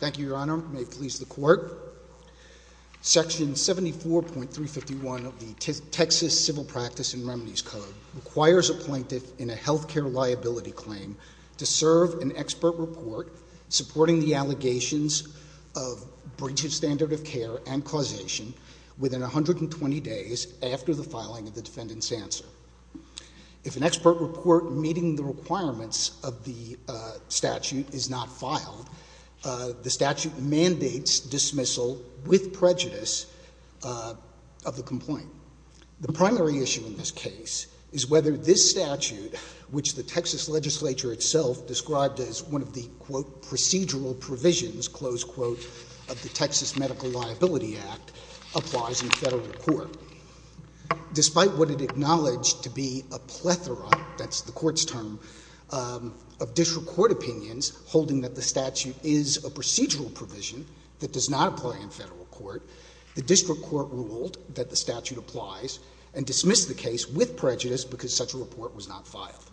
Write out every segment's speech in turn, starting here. Thank you, Your Honor. May it please the Court. Section 74.351 of the Texas Civil Practice and Remedies Code requires a plaintiff in a health care liability claim to serve an expert report supporting the allegations of breach of standard of care and causation within 120 days after the filing of the defendant's answer. If an expert report meeting the requirements of the statute is not filed, the statute mandates dismissal with prejudice of the complaint. The primary issue in this case is whether this statute, which the Texas legislature itself described as one of the, quote, procedural provisions, close quote, of the Texas Medical Liability Act, applies in federal court. Despite what it acknowledged to be a plethora, that's the Court's term, of district court opinions holding that the statute is a procedural provision that does not apply in federal court, the district court ruled that the statute applies and dismissed the case with prejudice because such a report was not filed.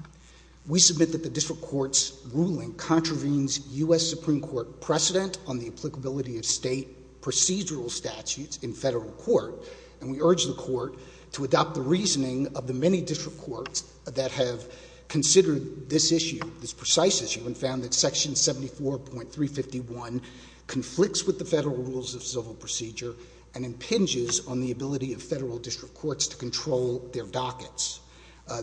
We submit that the district court's ruling contravenes U.S. Supreme Court precedent on the applicability of state procedural statutes in federal court, and we urge the Court to adopt the reasoning of the many district courts that have considered this issue, this precise issue, and found that section 74.351 conflicts with the federal rules of civil procedure and impinges on the ability of federal district courts to control their dockets.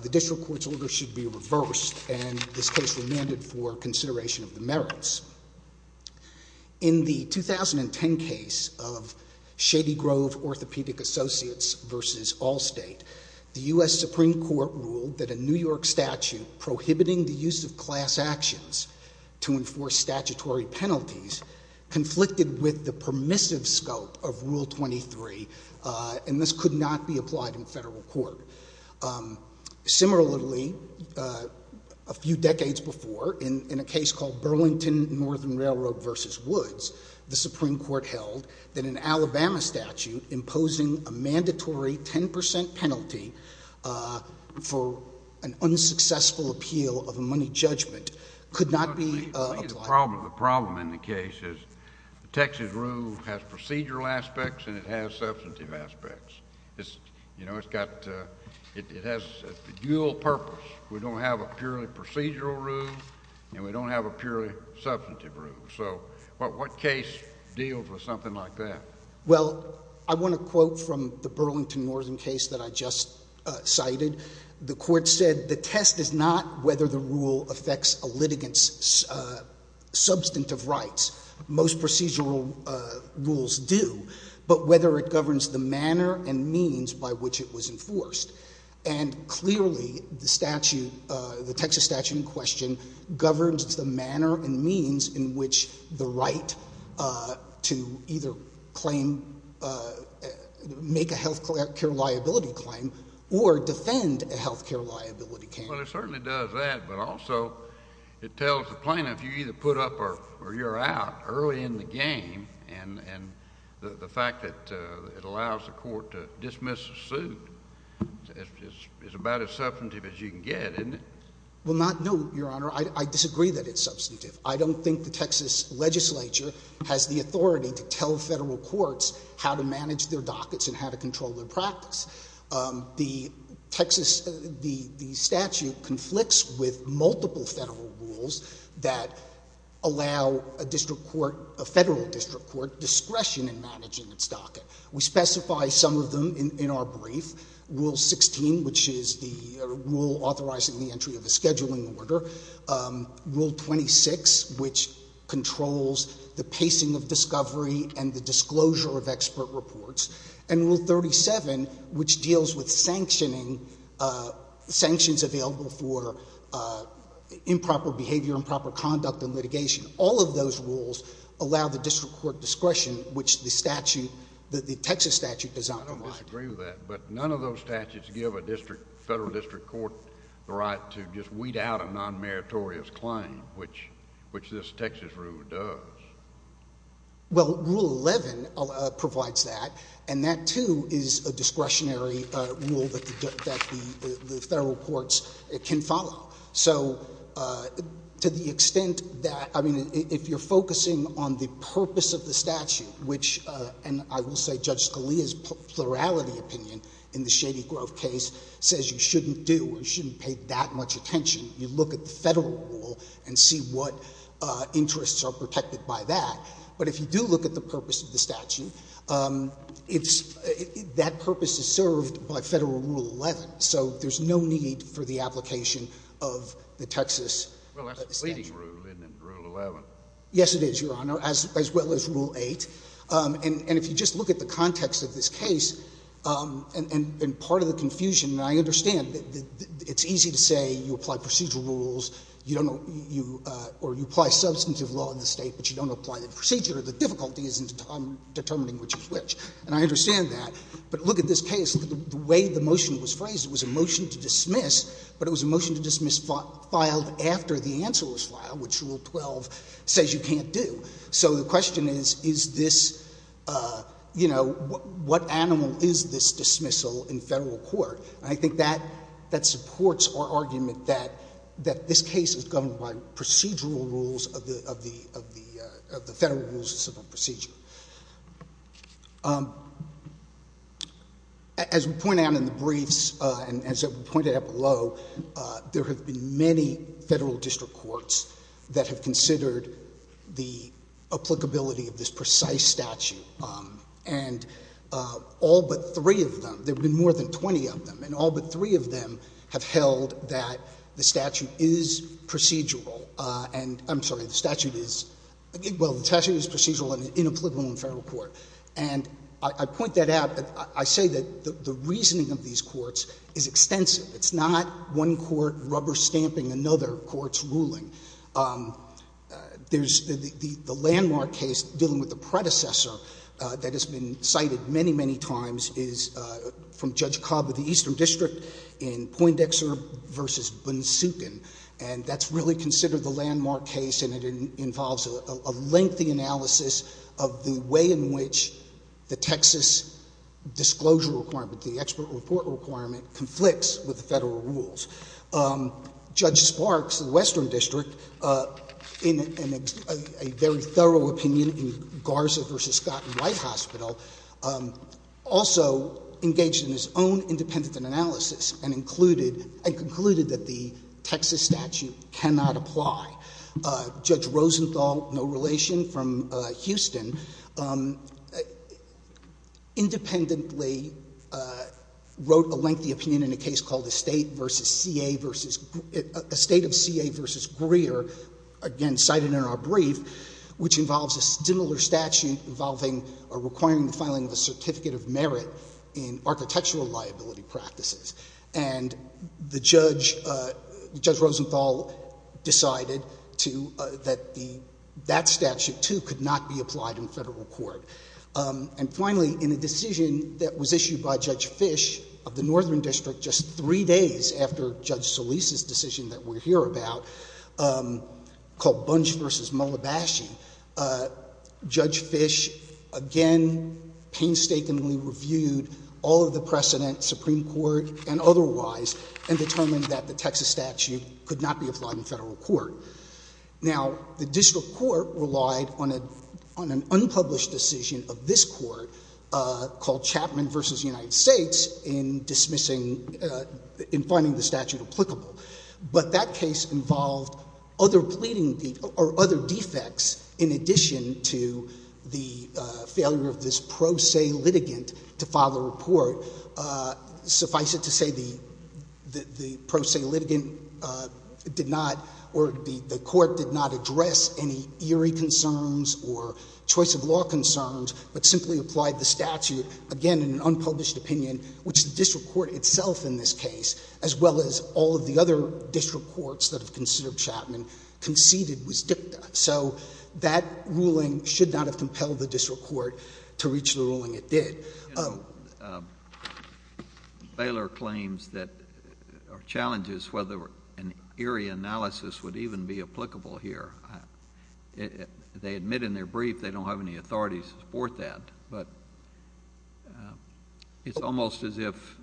The district court's order should be reversed, and this case remanded for consideration of the merits. In the 2010 case of Shady Grove Orthopedic Associates v. Allstate, the U.S. Supreme Court ruled that a New York statute prohibiting the use of class actions to enforce statutory penalties conflicted with the permissive scope of Rule 23, and this could not be applied in federal court. Similarly, a few decades before, in a case called Burlington Northern Railroad v. Woods, the Supreme Court held that an Alabama statute imposing a mandatory 10 percent penalty for an unsuccessful appeal of a money judgment could not be applied. The problem in the case is the Texas rule has procedural aspects and it has substantive aspects. It's, you know, it's got, it has a dual purpose. We don't have a purely procedural rule and we don't have a purely substantive rule. So what case deals with something like that? Well, I want to quote from the Burlington Northern case that I just cited. The Court said the test is not whether the rule affects a litigant's substantive rights. Most procedural rules do. But whether it governs the manner and means by which it was enforced. And clearly the statute, the Texas statute in question, governs the manner and means in which the right to either claim, make a health care liability claim or defend a health care liability claim. Well, it certainly does that, but also it tells the plaintiff you either put up or you're out early in the game. And the fact that it allows the court to dismiss a suit is about as substantive as you can get, isn't it? Well, not, no, Your Honor. I disagree that it's substantive. I don't think the Texas legislature has the authority to tell Federal courts how to manage their dockets and how to control their practice. The Texas, the statute conflicts with multiple Federal rules that allow a district court, a Federal district court, discretion in managing its docket. We specify some of them in our brief. Rule 16, which is the rule authorizing the entry of a scheduling order. Rule 26, which controls the pacing of discovery and the disclosure of expert reports. And Rule 37, which deals with sanctioning, sanctions available for improper behavior, improper conduct and litigation. All of those rules allow the district court discretion, which the statute, the Texas statute does not provide. I don't disagree with that, but none of those statutes give a district, Federal district court the right to just weed out a non-meritorious claim, which this Texas rule does. Well, Rule 11 provides that, and that, too, is a discretionary rule that the Federal courts can follow. So, to the extent that, I mean, if you're focusing on the purpose of the statute, which, and I will say Judge Scalia's plurality opinion in the Shady Grove case says you shouldn't do or you shouldn't pay that much attention. You look at the Federal rule and see what interests are protected by that. But if you do look at the purpose of the statute, it's, that purpose is served by Federal Rule 11. So there's no need for the application of the Texas statute. Well, that's the leading rule, isn't it, Rule 11? Yes, it is, Your Honor, as well as Rule 8. And if you just look at the context of this case, and part of the confusion, and I understand, it's easy to say you apply procedural rules, you don't know, or you apply substantive law in the State, but you don't apply the procedure. The difficulty is in determining which is which. And I understand that. But look at this case. The way the motion was phrased, it was a motion to dismiss, but it was a motion to dismiss filed after the answer was filed, which Rule 12 says you can't do. So the question is, is this, you know, what animal is this dismissal in Federal court? And I think that supports our argument that this case is governed by procedural rules of the Federal Rules of Civil Procedure. As we point out in the briefs, and as we pointed out below, there have been many Federal district courts that have considered the applicability of this precise statute. And all but three of them, there have been more than 20 of them, and all but three of them have held that the statute is procedural. And I'm sorry, the statute is, well, the statute is procedural in a political and Federal court. And I point that out. I say that the reasoning of these courts is extensive. It's not one court rubber stamping another court's ruling. There's the landmark case dealing with the predecessor that has been cited many, many times, is from Judge Cobb of the Eastern District in Poindexter v. Bunsuken. And that's really considered the landmark case, and it involves a lengthy analysis of the way in which the Texas disclosure requirement, the expert report requirement, conflicts with the Federal rules. Judge Sparks of the Western District, in a very thorough opinion in Garza v. Scott in White Hospital, also engaged in his own independent analysis and included, and concluded that the Texas statute cannot apply. Judge Rosenthal, no relation, from Houston, independently wrote a lengthy opinion in a case called Estate v. C.A. v. Greer, again cited in our brief, which involves a similar statute involving or requiring the filing of a certificate of merit in architectural liability practices. And the judge, Judge Rosenthal decided to, that the, that statute too could not be applied in Federal court. And finally, in a decision that was issued by Judge Fish of the Northern District just three days after Judge Solis' decision that we're here about, called Bunch v. Mullabashing, Judge Fish again painstakingly reviewed all of the precedent, Supreme Court and otherwise, and determined that the Texas statute could not be applied in Federal court. Now the District Court relied on a, on an unpublished decision of this court called Chapman v. United States in dismissing, in finding the statute applicable. But that case involved other pleading, or other defects in addition to the failure of this pro se litigant to file a report. Suffice it to say the, the pro se litigant did not, or the court did not address any eerie concerns or choice of law concerns, but simply applied the statute, again in an unpublished opinion, which the District Court itself in this case, as well as all of the other District Courts that have considered Chapman, conceded was dicta. So that ruling should not have compelled the District Court to reach the ruling it did. Bailer claims that, or challenges whether an eerie analysis would even be applicable here. They admit in their brief they don't have any authorities to support that, but it's almost as if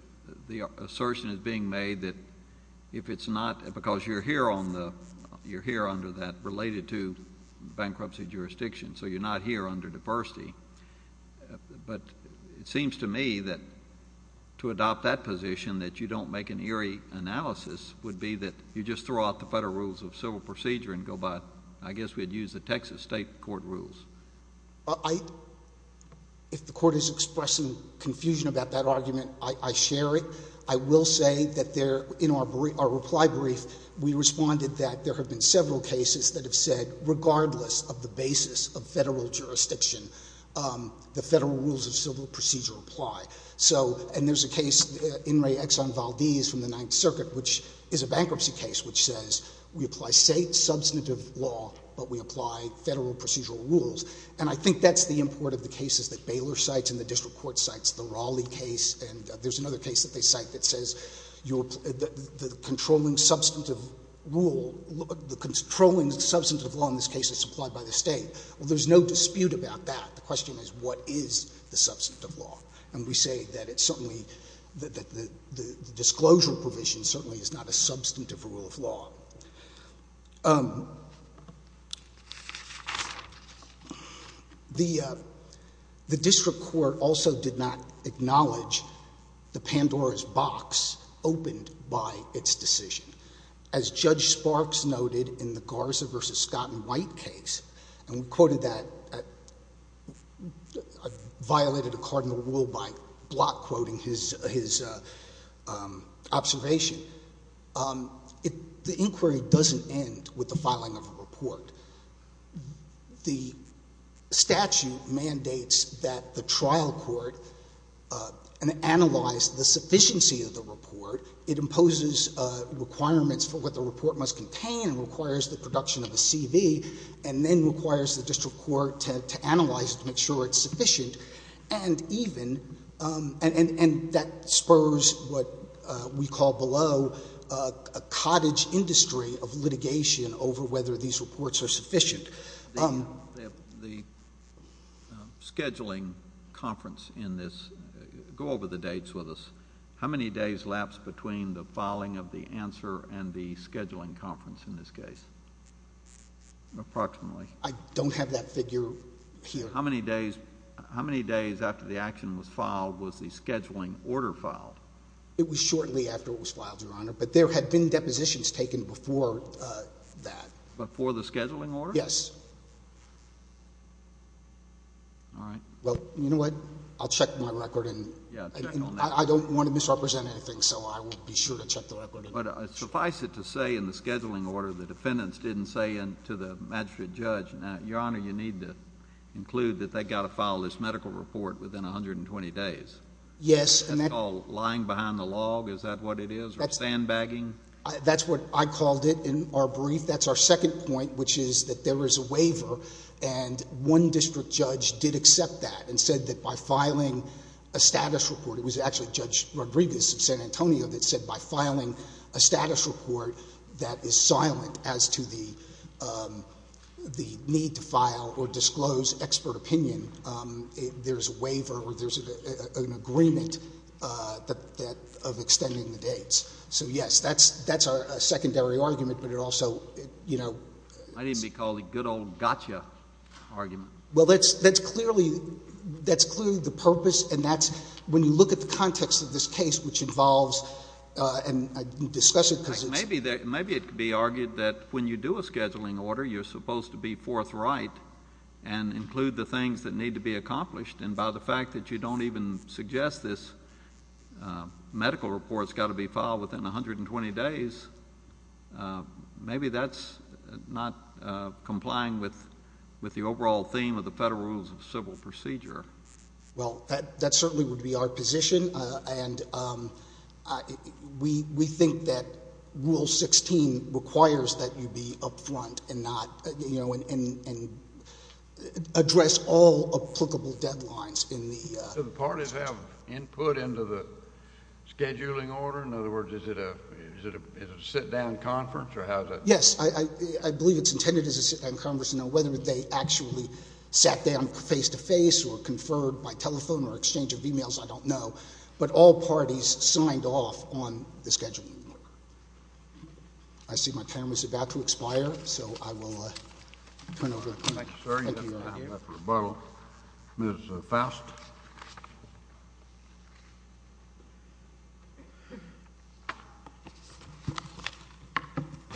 the assertion is being made that if it's not, because you're here on the, you're here under that related to bankruptcy jurisdiction, so you're not here under diversity. But it seems to me that to adopt that position, that you don't make an eerie analysis, would be that you just throw out the Federal rules of civil procedure and go by, I guess we'd use the Texas state court rules. I, if the court is expressing confusion about that argument, I share it. I will say that there, in our reply brief, we responded that there have been several cases that have said regardless of the basis of Federal jurisdiction, the Federal rules of civil procedure apply. So, and there's a case, In re Exxon Valdez from the Ninth Circuit, which is a bankruptcy case which says we apply state substantive law, but we apply Federal procedural rules. And I think that's the import of the cases that Baylor cites and the district court cites, the Raleigh case, and there's another case that they cite that says you're, the controlling substantive rule, the controlling substantive law in this case is supplied by the state. Well, there's no dispute about that. The question is what is the substantive law? And we say that it's certainly, the disclosure provision certainly is not a substantive rule of law. The district court also did not acknowledge the Pandora's box opened by its decision. As Judge Sparks noted in the Garza v. Scott and White case, and we quoted that, I violated a cardinal rule by block quoting his observation. The inquiry doesn't end with the filing of a report. The statute mandates that the trial court analyze the sufficiency of the report. It imposes requirements for what the report must contain and requires the production of a CV and then requires the district court to analyze it to make sure it's sufficient. And that spurs what we call below a cottage industry of litigation over whether these reports are sufficient. The scheduling conference in this, go over the dates with us. How many days lapse between the filing of the answer and the scheduling conference in this case? Approximately. I don't have that figure here. How many days after the action was filed was the scheduling order filed? It was shortly after it was filed, Your Honor, but there had been depositions taken before that. Before the scheduling order? Yes. All right. Well, you know what? I'll check my record and I don't want to misrepresent anything, so I will be sure to check the record. But suffice it to say in the scheduling order, the defendants didn't say to the magistrate judge, Your Honor, you need to include that they've got to file this medical report within 120 days. Yes. That's called lying behind the log, is that what it is, or sandbagging? That's what I called it in our brief. That's our second point, which is that there is a waiver and one district judge did accept that and said that by filing a status report, it is silent as to the need to file or disclose expert opinion, there's a waiver or there's an agreement of extending the dates. So yes, that's our secondary argument, but it also... Might even be called a good old gotcha argument. Well, that's clearly the purpose, and that's when you look at the context of this case, which involves... and discuss it because it's... Maybe it could be argued that when you do a scheduling order, you're supposed to be forthright and include the things that need to be accomplished, and by the fact that you don't even suggest this medical report's got to be filed within 120 days, maybe that's not complying with the overall theme of the Federal Rules of Civil Procedure. Well, that certainly would be our position, and we think that Rule 16 requires that you be up front and not, you know, and address all applicable deadlines in the... Do the parties have input into the scheduling order? In other words, is it a sit-down conference or how does that... Yes, I believe it's intended as a sit-down conference, you know, whether they actually sat down face-to-face or conferred by telephone or exchange of e-mails, I don't know, but all parties signed off on the scheduling order. I see my time is about to expire, so I will turn it over to you. Thank you, sir, for that rebuttal. Ms. Faust?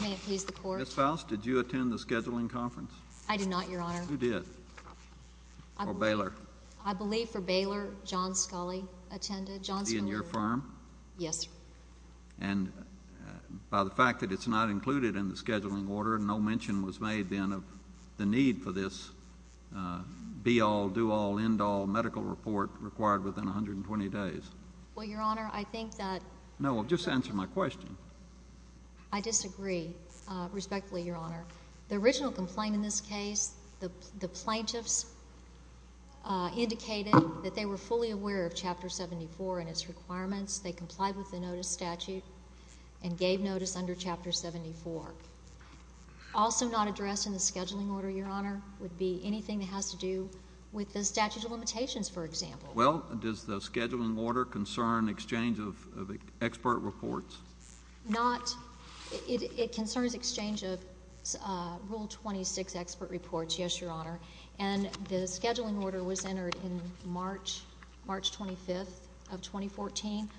May it please the Court? Ms. Faust, did you attend the scheduling conference? I did not, Your Honor. Who did? Or Baylor? I believe for Baylor, John Scully attended. Was he in your firm? Yes, sir. And by the fact that it's not included in the scheduling order, no mention was made then of the need for this be-all, do-all, end-all medical report required within 120 days? Well, Your Honor, I think that... No, well, just answer my question. I disagree, respectfully, Your Honor. The original complaint in this case, the plaintiffs indicated that they were fully aware of Chapter 74 and its requirements. They complied with the notice statute and gave notice under Chapter 74. Also not addressed in the scheduling order, Your Honor, would be anything that has to do with the statute of limitations, for example. Well, does the scheduling order concern exchange of expert reports? Not... it concerns exchange of Rule 26 expert reports, yes, Your Honor. And the scheduling order was entered in March, March 25th of 2014.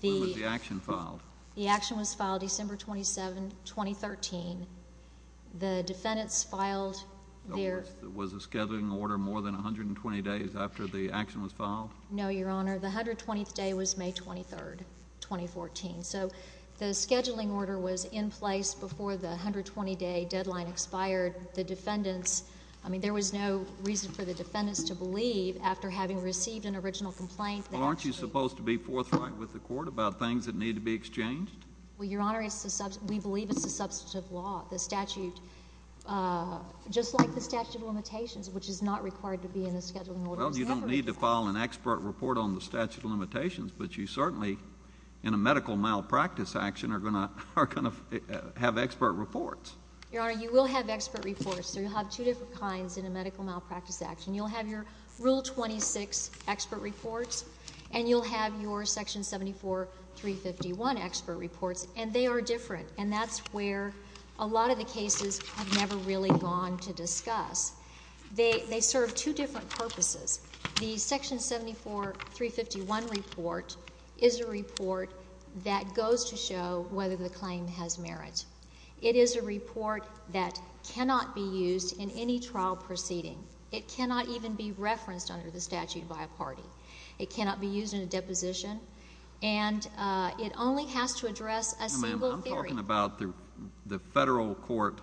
When was the action filed? The action was filed December 27, 2013. The defendants filed their... Was the scheduling order more than 120 days after the action was filed? No, Your Honor. The 120th day was May 23, 2014. So the scheduling order was in place before the 120-day deadline expired. The defendants... I mean, there was no reason for the defendants to believe, after having received an original complaint... Well, aren't you supposed to be forthright with the Court about things that need to be exchanged? Well, Your Honor, we believe it's a substantive law. The statute... just like the statute of limitations, which is not required to be in the scheduling order... Well, you don't need to file an expert report on the statute of limitations, but you certainly, in a medical malpractice action, are going to have expert reports. Your Honor, you will have expert reports. So you'll have two different kinds in a medical malpractice action. You'll have your Rule 26 expert reports, and you'll have your Section 74-351 expert reports, and they are different. And that's where a lot of the cases have never really gone to discuss. They serve two different purposes. The Section 74-351 report is a report that goes to show whether the claim has merit. It is a report that cannot be used in any trial proceeding. It cannot even be referenced under the statute by a party. It cannot be used in a deposition. And it only has to address a single theory. Now, ma'am, I'm talking about the federal court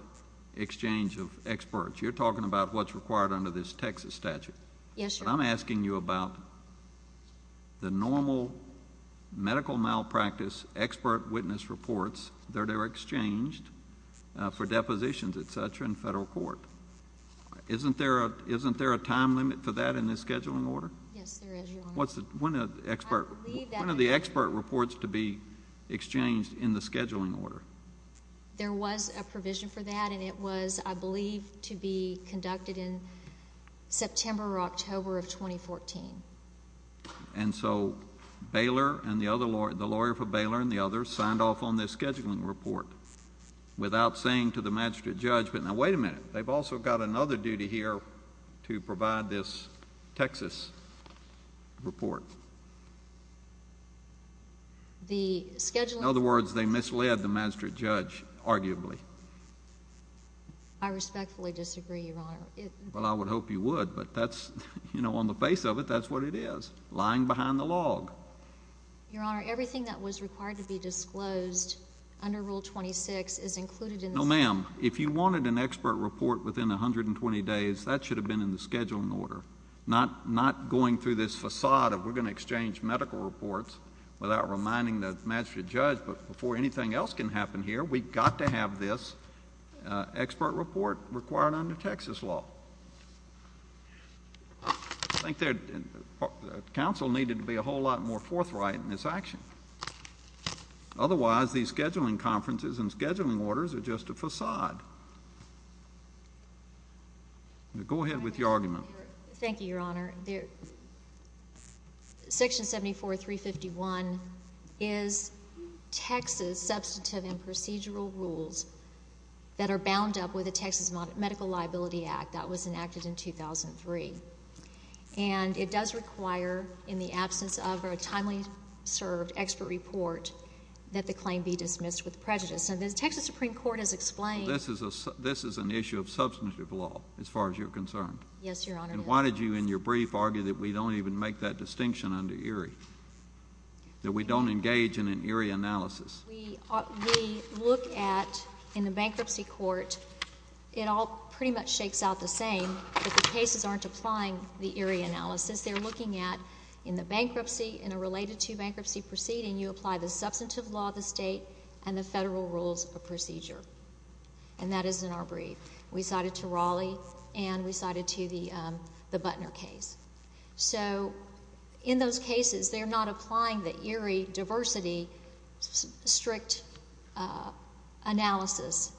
exchange of experts. You're talking about what's required under this Texas statute. Yes, sir. But I'm asking you about the normal medical malpractice expert witness reports that are exchanged for depositions, et cetera, in federal court. Isn't there a time limit for that in this scheduling order? Yes, there is, Your Honor. When are the expert reports to be exchanged in the scheduling order? There was a provision for that, and it was, I believe, to be conducted in September or October of 2014. And so Baylor and the other lawyer, the lawyer for Baylor and the others, signed off on this scheduling report without saying to the magistrate judge, but now, wait a minute, they've also got another duty here to provide this Texas report. The scheduling report— In other words, they misled the magistrate judge, arguably. I respectfully disagree, Your Honor. Well, I would hope you would, but that's—you know, on the face of it, that's what it is, lying behind the log. Your Honor, everything that was required to be disclosed under Rule 26 is included in this— No, ma'am. If you wanted an expert report within 120 days, that should have been in the scheduling order, not going through this facade of we're going to exchange medical reports without reminding the magistrate judge. But before anything else can happen here, we've got to have this expert report required under Texas law. I think the Council needed to be a whole lot more forthright in this action. Otherwise, these scheduling conferences and scheduling orders are just a facade. Go ahead with your argument. Thank you, Your Honor. Section 74351 is Texas substantive and procedural rules that are bound up with the Texas Medical Liability Act that was enacted in 2003. And it does require, in the absence of a timely served expert report, that the claim be dismissed with prejudice. Now, the Texas Supreme Court has explained— This is an issue of substantive law, as far as you're concerned. Yes, Your Honor. And why did you, in your brief, argue that we don't even make that distinction under Erie, that we don't engage in an Erie analysis? We look at, in the bankruptcy court, it all pretty much shakes out the same. The cases aren't applying the Erie analysis. They're looking at, in the bankruptcy, in a related to bankruptcy proceeding, you apply the substantive law of the state and the federal rules of procedure. And that is in our brief. We cited to Raleigh, and we cited to the Butner case. So, in those cases, they're not applying the Erie diversity strict analysis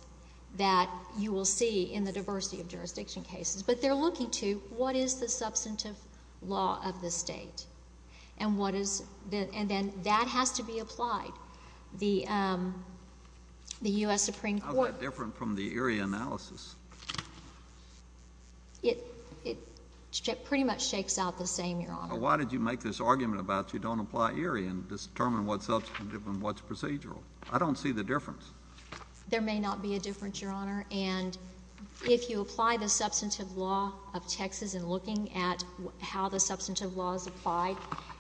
that you will see in the diversity of jurisdiction cases. But they're looking to, what is the substantive law of the state? And what is—and then that has to be applied. The U.S. Supreme Court— How is that different from the Erie analysis? It pretty much shakes out the same, Your Honor. But why did you make this argument about you don't apply Erie and determine what's substantive and what's procedural? I don't see the difference. There may not be a difference, Your Honor. And if you apply the substantive law of Texas in looking at how the substantive law is applied,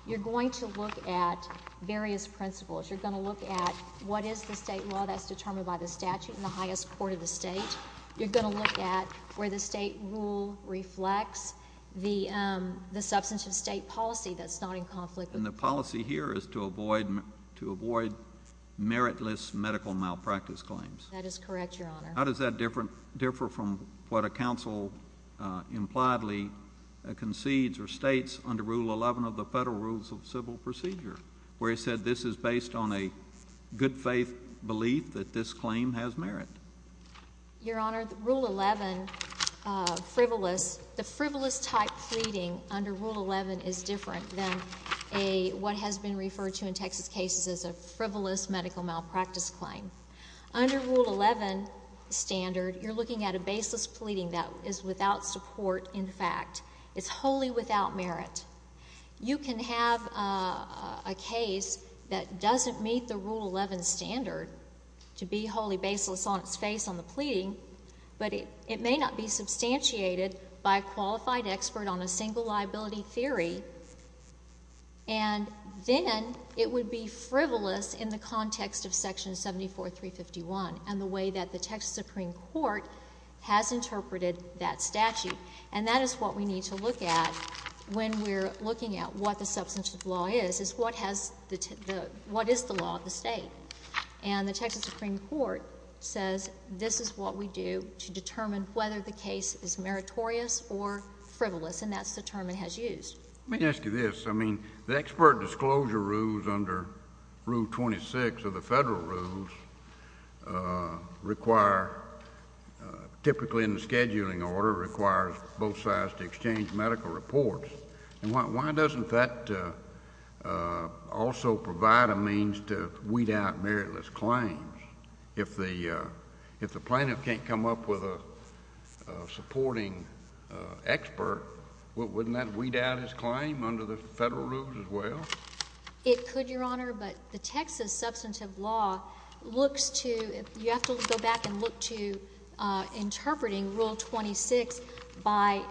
you're going to look at various principles. You're going to look at what is the state law that's determined by the statute in the highest court of the state. You're going to look at where the state rule reflects the substantive state policy that's not in conflict with the statute. And the policy here is to avoid meritless medical malpractice claims. That is correct, Your Honor. How does that differ from what a counsel impliedly concedes or states under Rule 11 of the Federal Rules of Civil Procedure, where it said this is based on a good-faith belief that this claim has merit? Your Honor, Rule 11 frivolous—the frivolous type pleading under Rule 11 is different than what has been referred to in Texas cases as a frivolous medical malpractice claim. Under Rule 11 standard, you're looking at a baseless pleading that is without support, in fact. It's wholly without merit. You can have a case that doesn't meet the Rule 11 standard to be wholly baseless on its face on the pleading, but it may not be substantiated by a qualified expert on a single liability theory. And then it would be frivolous in the context of Section 74351 and the way that the Texas Supreme Court has interpreted that statute. And that is what we need to look at when we're looking at what the substantive law is, is what is the law of the state? And the Texas Supreme Court says this is what we do to determine whether the case is meritorious or frivolous, and that's the term it has used. Let me ask you this. I mean, the expert disclosure rules under Rule 26 of the federal rules require, typically in the scheduling order, requires both sides to exchange medical reports. And why doesn't that also provide a means to weed out meritless claims if the plaintiff can't come up with a supporting expert, wouldn't that weed out his claim under the federal rules as well? It could, Your Honor, but the Texas substantive law looks to — you have to go back and look to interpreting Rule 26 by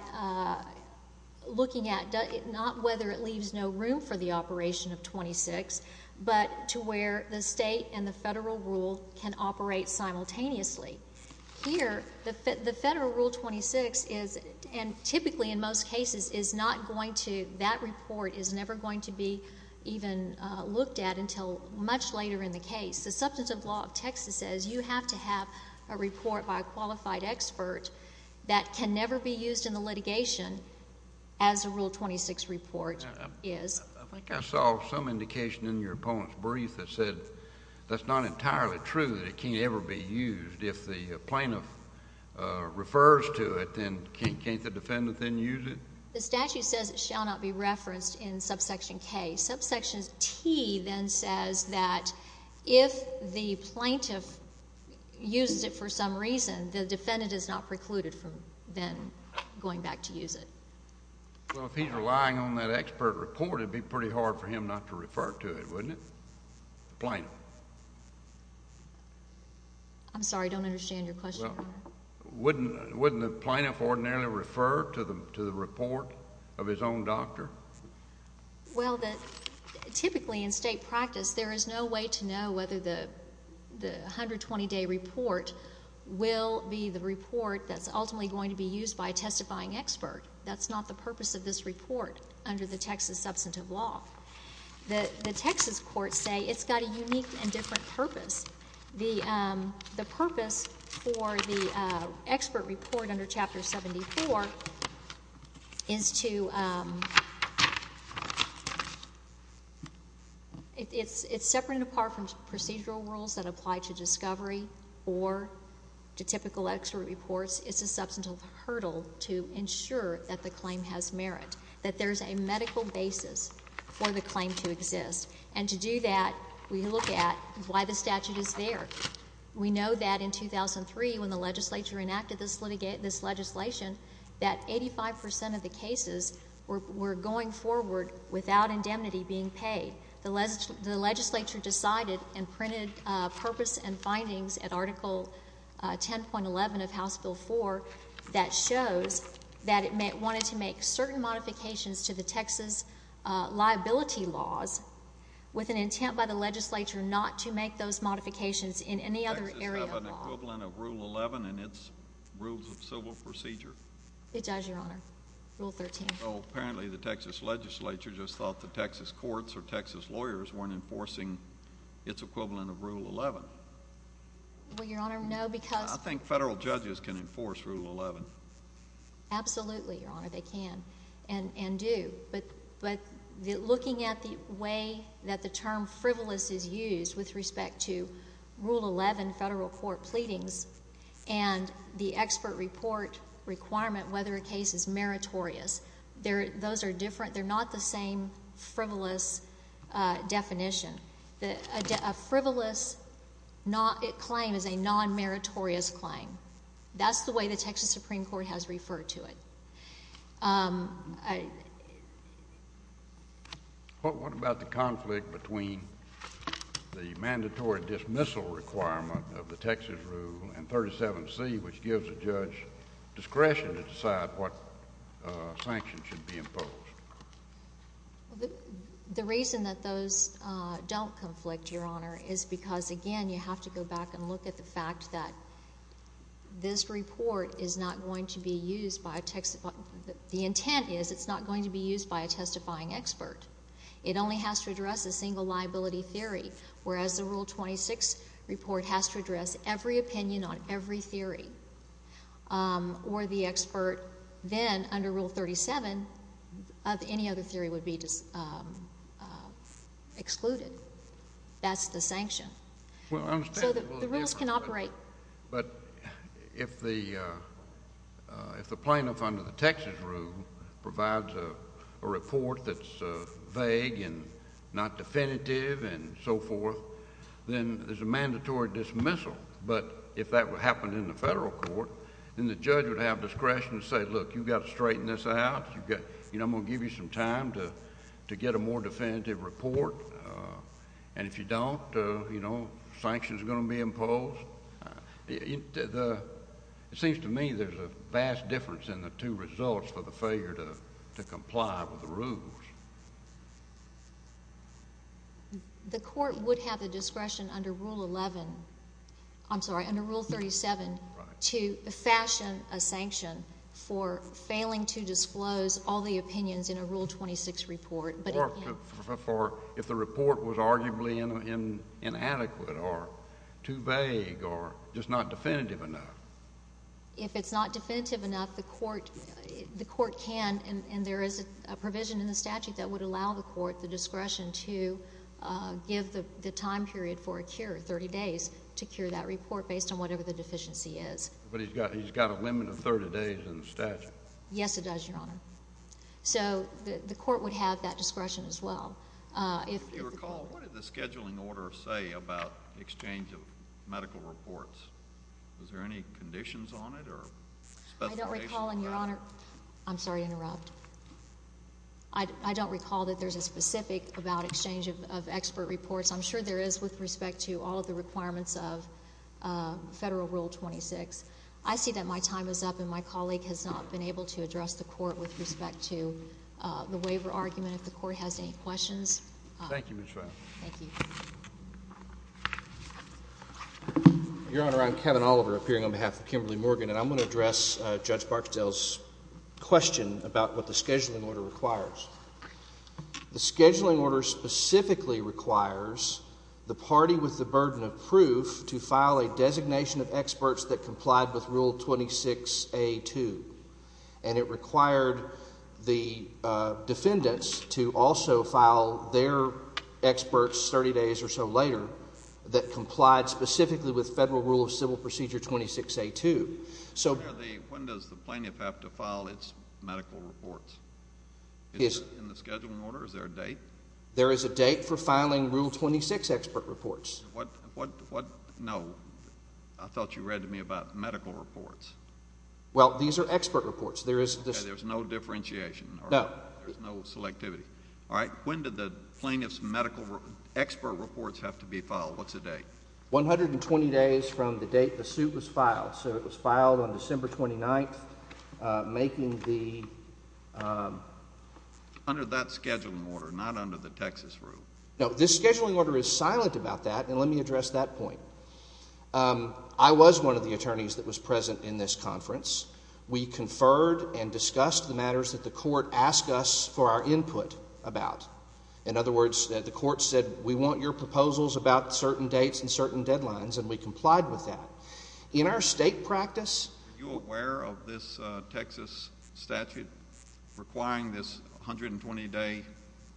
looking at not whether it leaves no room for the operation of 26, but to where the state and the federal rule can operate simultaneously. Here, the federal Rule 26 is — and typically in most cases is not going to — that report is never going to be even looked at until much later in the case. The substantive law of Texas says you have to have a report by a qualified expert that can never be used in the litigation as a Rule 26 report is. I think I saw some indication in your opponent's brief that said that's not entirely true that it can't ever be used. If the plaintiff refers to it, then can't the defendant then use it? The statute says it shall not be referenced in subsection K. Subsection T then says that if the plaintiff uses it for some reason, the defendant is not precluded from then going back to use it. Well, if he's relying on that expert report, it would be pretty hard for him not to refer to it, wouldn't it? The plaintiff. I'm sorry. I don't understand your question. Wouldn't the plaintiff ordinarily refer to the report of his own doctor? Well, typically in state practice, there is no way to know whether the 120-day report will be the report that's ultimately going to be used by a testifying expert. That's not the purpose of this report under the Texas substantive law. The Texas courts say it's got a unique and different purpose. The purpose for the expert report under Chapter 74 is to... It's separate and apart from procedural rules that apply to discovery or to typical expert reports. It's a substantive hurdle to ensure that the claim has merit, that there's a medical basis for the claim to exist. And to do that, we look at why the statute is there. We know that in 2003, when the legislature enacted this legislation, that 85 percent of the cases were going forward without indemnity being paid. The legislature decided and printed purpose and findings at Article 10.11 of House Bill 4 that shows that it wanted to make certain modifications to the Texas liability laws with an intent by the legislature not to make those modifications in any other area of law. Does Texas have an equivalent of Rule 11 in its Rules of Civil Procedure? It does, Your Honor. Rule 13. Well, apparently the Texas legislature just thought the Texas courts or Texas lawyers weren't enforcing its equivalent of Rule 11. Well, Your Honor, no, because... I think federal judges can enforce Rule 11. Absolutely, Your Honor, they can and do. But looking at the way that the term frivolous is used with respect to Rule 11 federal court pleadings and the expert report requirement whether a case is meritorious, those are different. They're not the same frivolous definition. A frivolous claim is a non-meritorious claim. That's the way the Texas Supreme Court has referred to it. What about the conflict between the mandatory dismissal requirement of the Texas rule and 37C, which gives a judge discretion to decide what sanctions should be imposed? The reason that those don't conflict, Your Honor, is because, again, you have to go back and look at the fact that this report is not going to be used by a Texas... The intent is it's not going to be used by a testifying expert. It only has to address a single liability theory, whereas the Rule 26 report has to address every opinion on every theory, or the expert then, under Rule 37, of any other theory would be excluded. That's the sanction. So the rules can operate... If the plaintiff under the Texas rule provides a report that's vague and not definitive and so forth, then there's a mandatory dismissal. But if that would happen in the federal court, then the judge would have discretion to say, Look, you've got to straighten this out. I'm going to give you some time to get a more definitive report. And if you don't, you know, sanctions are going to be imposed. It seems to me there's a vast difference in the two results for the failure to comply with the rules. The court would have the discretion under Rule 11... I'm sorry, under Rule 37... Right.... to fashion a sanction for failing to disclose all the opinions in a Rule 26 report. If the report was arguably inadequate or too vague or just not definitive enough. If it's not definitive enough, the court can, and there is a provision in the statute that would allow the court the discretion to give the time period for a cure, 30 days, to cure that report based on whatever the deficiency is. But he's got a limit of 30 days in the statute. Yes, it does, Your Honor. So, the court would have that discretion as well. If you recall, what did the scheduling order say about exchange of medical reports? Was there any conditions on it or specifications? I don't recall, and Your Honor... I'm sorry to interrupt. I don't recall that there's a specific about exchange of expert reports. I'm sure there is with respect to all of the requirements of Federal Rule 26. I see that my time is up, and my colleague has not been able to address the court with respect to the waiver argument. If the court has any questions. Thank you, Ms. Schwab. Thank you. Your Honor, I'm Kevin Oliver, appearing on behalf of Kimberly Morgan, and I'm going to address Judge Barksdale's question about what the scheduling order requires. The scheduling order specifically requires the party with the burden of proof to file a designation of experts that complied with Rule 26A2, and it required the defendants to also file their experts 30 days or so later that complied specifically with Federal Rule of Civil Procedure 26A2. When does the plaintiff have to file its medical reports? Is it in the scheduling order? Is there a date? There is a date for filing Rule 26 expert reports. What? What? No. I thought you read to me about medical reports. Well, these are expert reports. There is no differentiation. No. There's no selectivity. All right. When did the plaintiff's medical expert reports have to be filed? What's the date? 120 days from the date the suit was filed. So it was filed on December 29th, making the... Under that scheduling order, not under the Texas Rule. No. This scheduling order is silent about that, and let me address that point. I was one of the attorneys that was present in this conference. We conferred and discussed the matters that the court asked us for our input about. In other words, the court said we want your proposals about certain dates and certain deadlines, and we complied with that. In our state practice... Are you aware of this Texas statute requiring this 120-day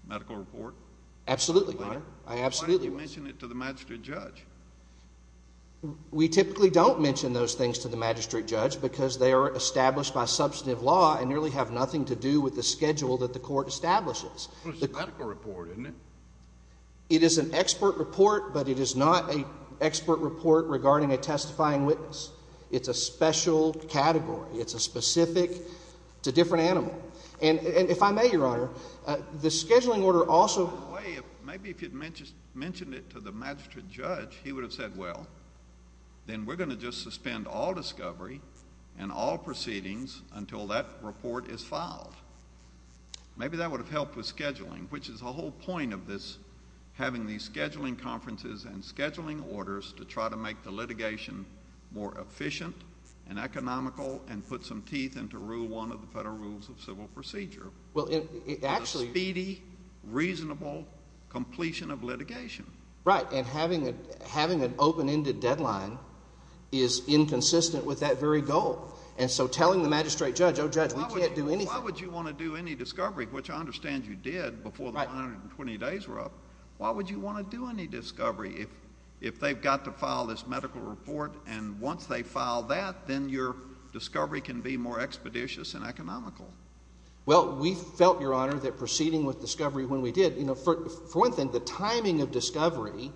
medical report? Absolutely, Your Honor. I absolutely was. Why don't you mention it to the magistrate judge? We typically don't mention those things to the magistrate judge because they are established by substantive law and nearly have nothing to do with the schedule that the court establishes. Well, it's a medical report, isn't it? It is an expert report, but it is not an expert report regarding a testifying witness. It's a special category. It's a specific... it's a different animal. And if I may, Your Honor, the scheduling order also... Maybe if you had mentioned it to the magistrate judge, he would have said, well, then we're going to just suspend all discovery and all proceedings until that report is filed. Maybe that would have helped with scheduling, which is the whole point of this having these scheduling conferences and scheduling orders to try to make the litigation more efficient and economical and put some teeth into Rule 1 of the Federal Rules of Civil Procedure. Well, actually... It's a speedy, reasonable completion of litigation. Right, and having an open-ended deadline is inconsistent with that very goal. And so telling the magistrate judge, oh, Judge, we can't do anything... Why would you want to do any discovery, which I understand you did before the 120 days were up. Why would you want to do any discovery if they've got to file this medical report and once they file that, then your discovery can be more expeditious and economical? Well, we felt, Your Honor, that proceeding with discovery when we did... You know, for one thing, the timing of discovery,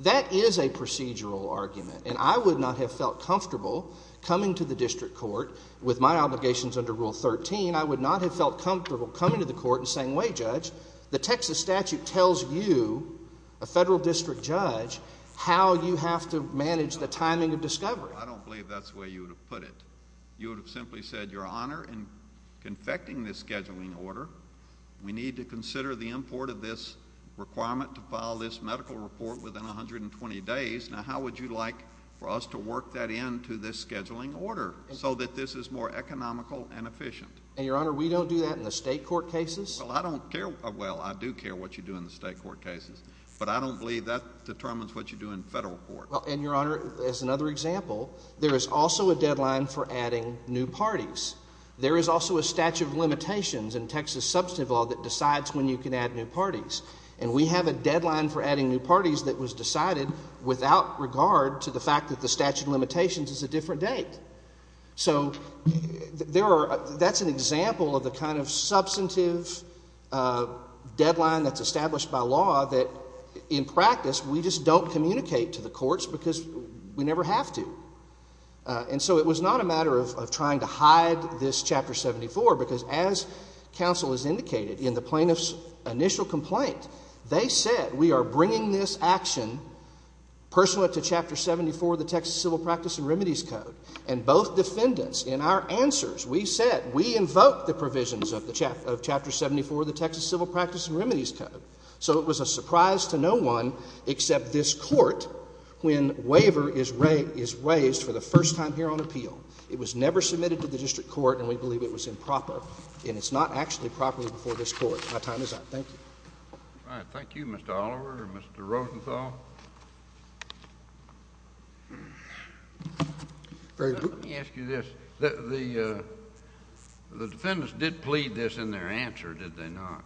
that is a procedural argument. And I would not have felt comfortable coming to the district court with my obligations under Rule 13. I would not have felt comfortable coming to the court and saying, wait, Judge, the Texas statute tells you, a federal district judge, how you have to manage the timing of discovery. I don't believe that's the way you would have put it. You would have simply said, Your Honor, in confecting this scheduling order, we need to consider the import of this requirement to file this medical report within 120 days. Now, how would you like for us to work that into this scheduling order, so that this is more economical and efficient? And, Your Honor, we don't do that in the state court cases? Well, I don't care... well, I do care what you do in the state court cases, but I don't believe that determines what you do in federal court. Well, and, Your Honor, as another example, there is also a deadline for adding new parties. There is also a statute of limitations in Texas substantive law that decides when you can add new parties. And we have a deadline for adding new parties that was decided without regard to the fact that the statute of limitations is a different date. So that's an example of the kind of substantive deadline that's established by law that, in practice, we just don't communicate to the courts because we never have to. And so it was not a matter of trying to hide this Chapter 74, because as counsel has indicated in the plaintiff's initial complaint, they said, we are bringing this action pursuant to Chapter 74 of the Texas Civil Practice and Remedies Code. And both defendants in our answers, we said, we invoke the provisions of Chapter 74 of the Texas Civil Practice and Remedies Code. So it was a surprise to no one except this Court when waiver is raised for the first time here on appeal. It was never submitted to the district court, and we believe it was improper. And it's not actually proper before this Court. My time is up. Thank you. All right. Thank you, Mr. Oliver and Mr. Rosenthal. Let me ask you this. The defendants did plead this in their answer, did they not?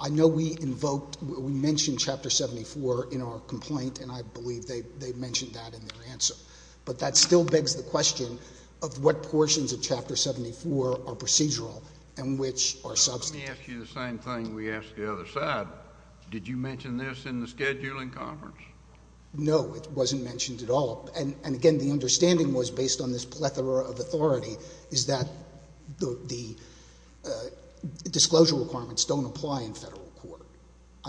I know we invoked, we mentioned Chapter 74 in our complaint, and I believe they mentioned that in their answer. But that still begs the question of what portions of Chapter 74 are procedural and which are substantive. Let me ask you the same thing we asked the other side. Did you mention this in the scheduling conference? No, it wasn't mentioned at all. And, again, the understanding was, based on this plethora of authority, is that the disclosure requirements don't apply in Federal court.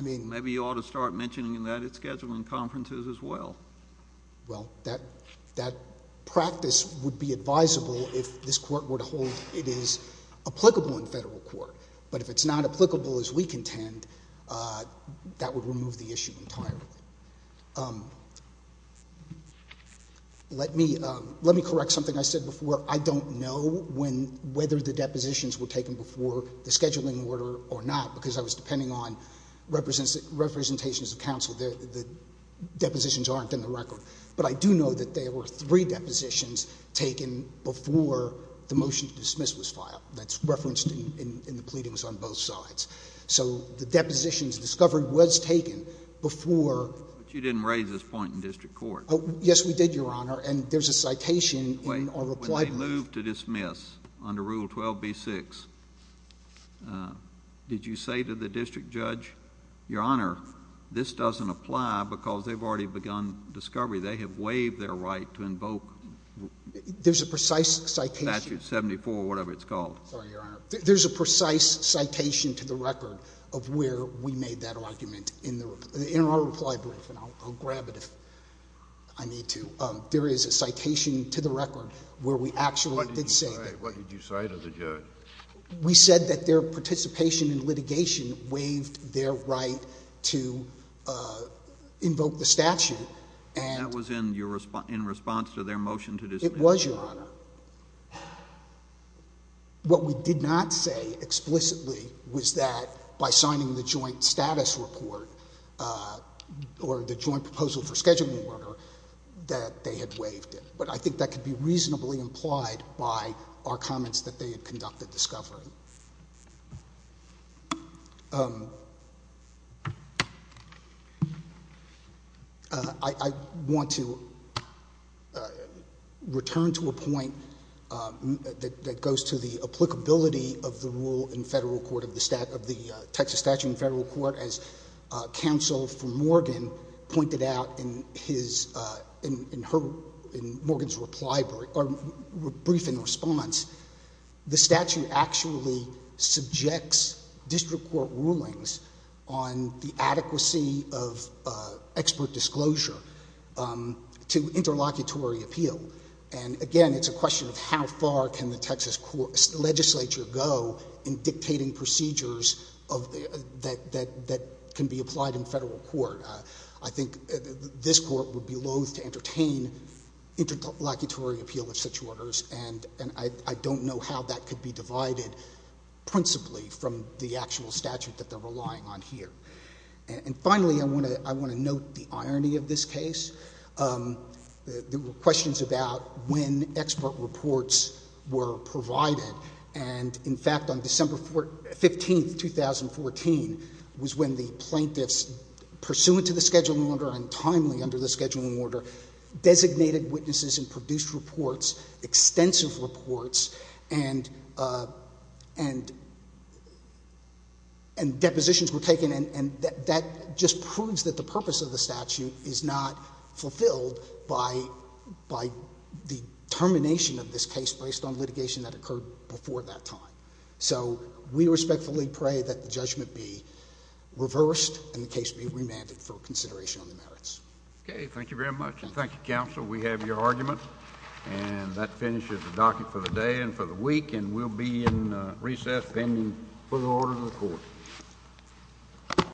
Maybe you ought to start mentioning that at scheduling conferences as well. Well, that practice would be advisable if this Court were to hold it is applicable in Federal court. But if it's not applicable as we contend, that would remove the issue entirely. Let me correct something I said before. I don't know whether the depositions were taken before the scheduling order or not, because I was depending on representations of counsel. The depositions aren't in the record. But I do know that there were three depositions taken before the motion to dismiss was filed. That's referenced in the pleadings on both sides. So the depositions discovery was taken before. But you didn't raise this point in district court. Yes, we did, Your Honor. And there's a citation in our reply brief. Wait. When they moved to dismiss under Rule 12b-6, did you say to the district judge, Your Honor, this doesn't apply because they've already begun discovery. They have waived their right to invoke statute 74 or whatever it's called. Sorry, Your Honor. There's a precise citation to the record of where we made that argument in our reply brief. And I'll grab it if I need to. There is a citation to the record where we actually did say that. What did you say to the judge? We said that their participation in litigation waived their right to invoke the statute. And that was in response to their motion to dismiss? It was, Your Honor. What we did not say explicitly was that by signing the joint status report or the joint proposal for scheduling order that they had waived it. But I think that could be reasonably implied by our comments that they had conducted discovery. Your Honor, I want to return to a point that goes to the applicability of the rule in federal court, of the Texas statute in federal court. As counsel for Morgan pointed out in Morgan's reply brief in response, the statute actually subjects district court rulings on the adequacy of expert disclosure to interlocutory appeal. And, again, it's a question of how far can the Texas legislature go in dictating procedures that can be applied in federal court. I think this court would be loath to entertain interlocutory appeal of such orders. And I don't know how that could be divided principally from the actual statute that they're relying on here. And, finally, I want to note the irony of this case. There were questions about when expert reports were provided. And, in fact, on December 15, 2014, was when the plaintiffs, pursuant to the scheduling order and timely under the scheduling order, designated witnesses and produced reports, extensive reports, and depositions were taken. And that just proves that the purpose of the statute is not fulfilled by the termination of this case based on litigation that occurred before that time. So we respectfully pray that the judgment be reversed and the case be remanded for consideration on the merits. Okay. Thank you very much. And thank you, counsel. We have your argument. And that finishes the docket for the day and for the week. And we'll be in recess pending further order of the court.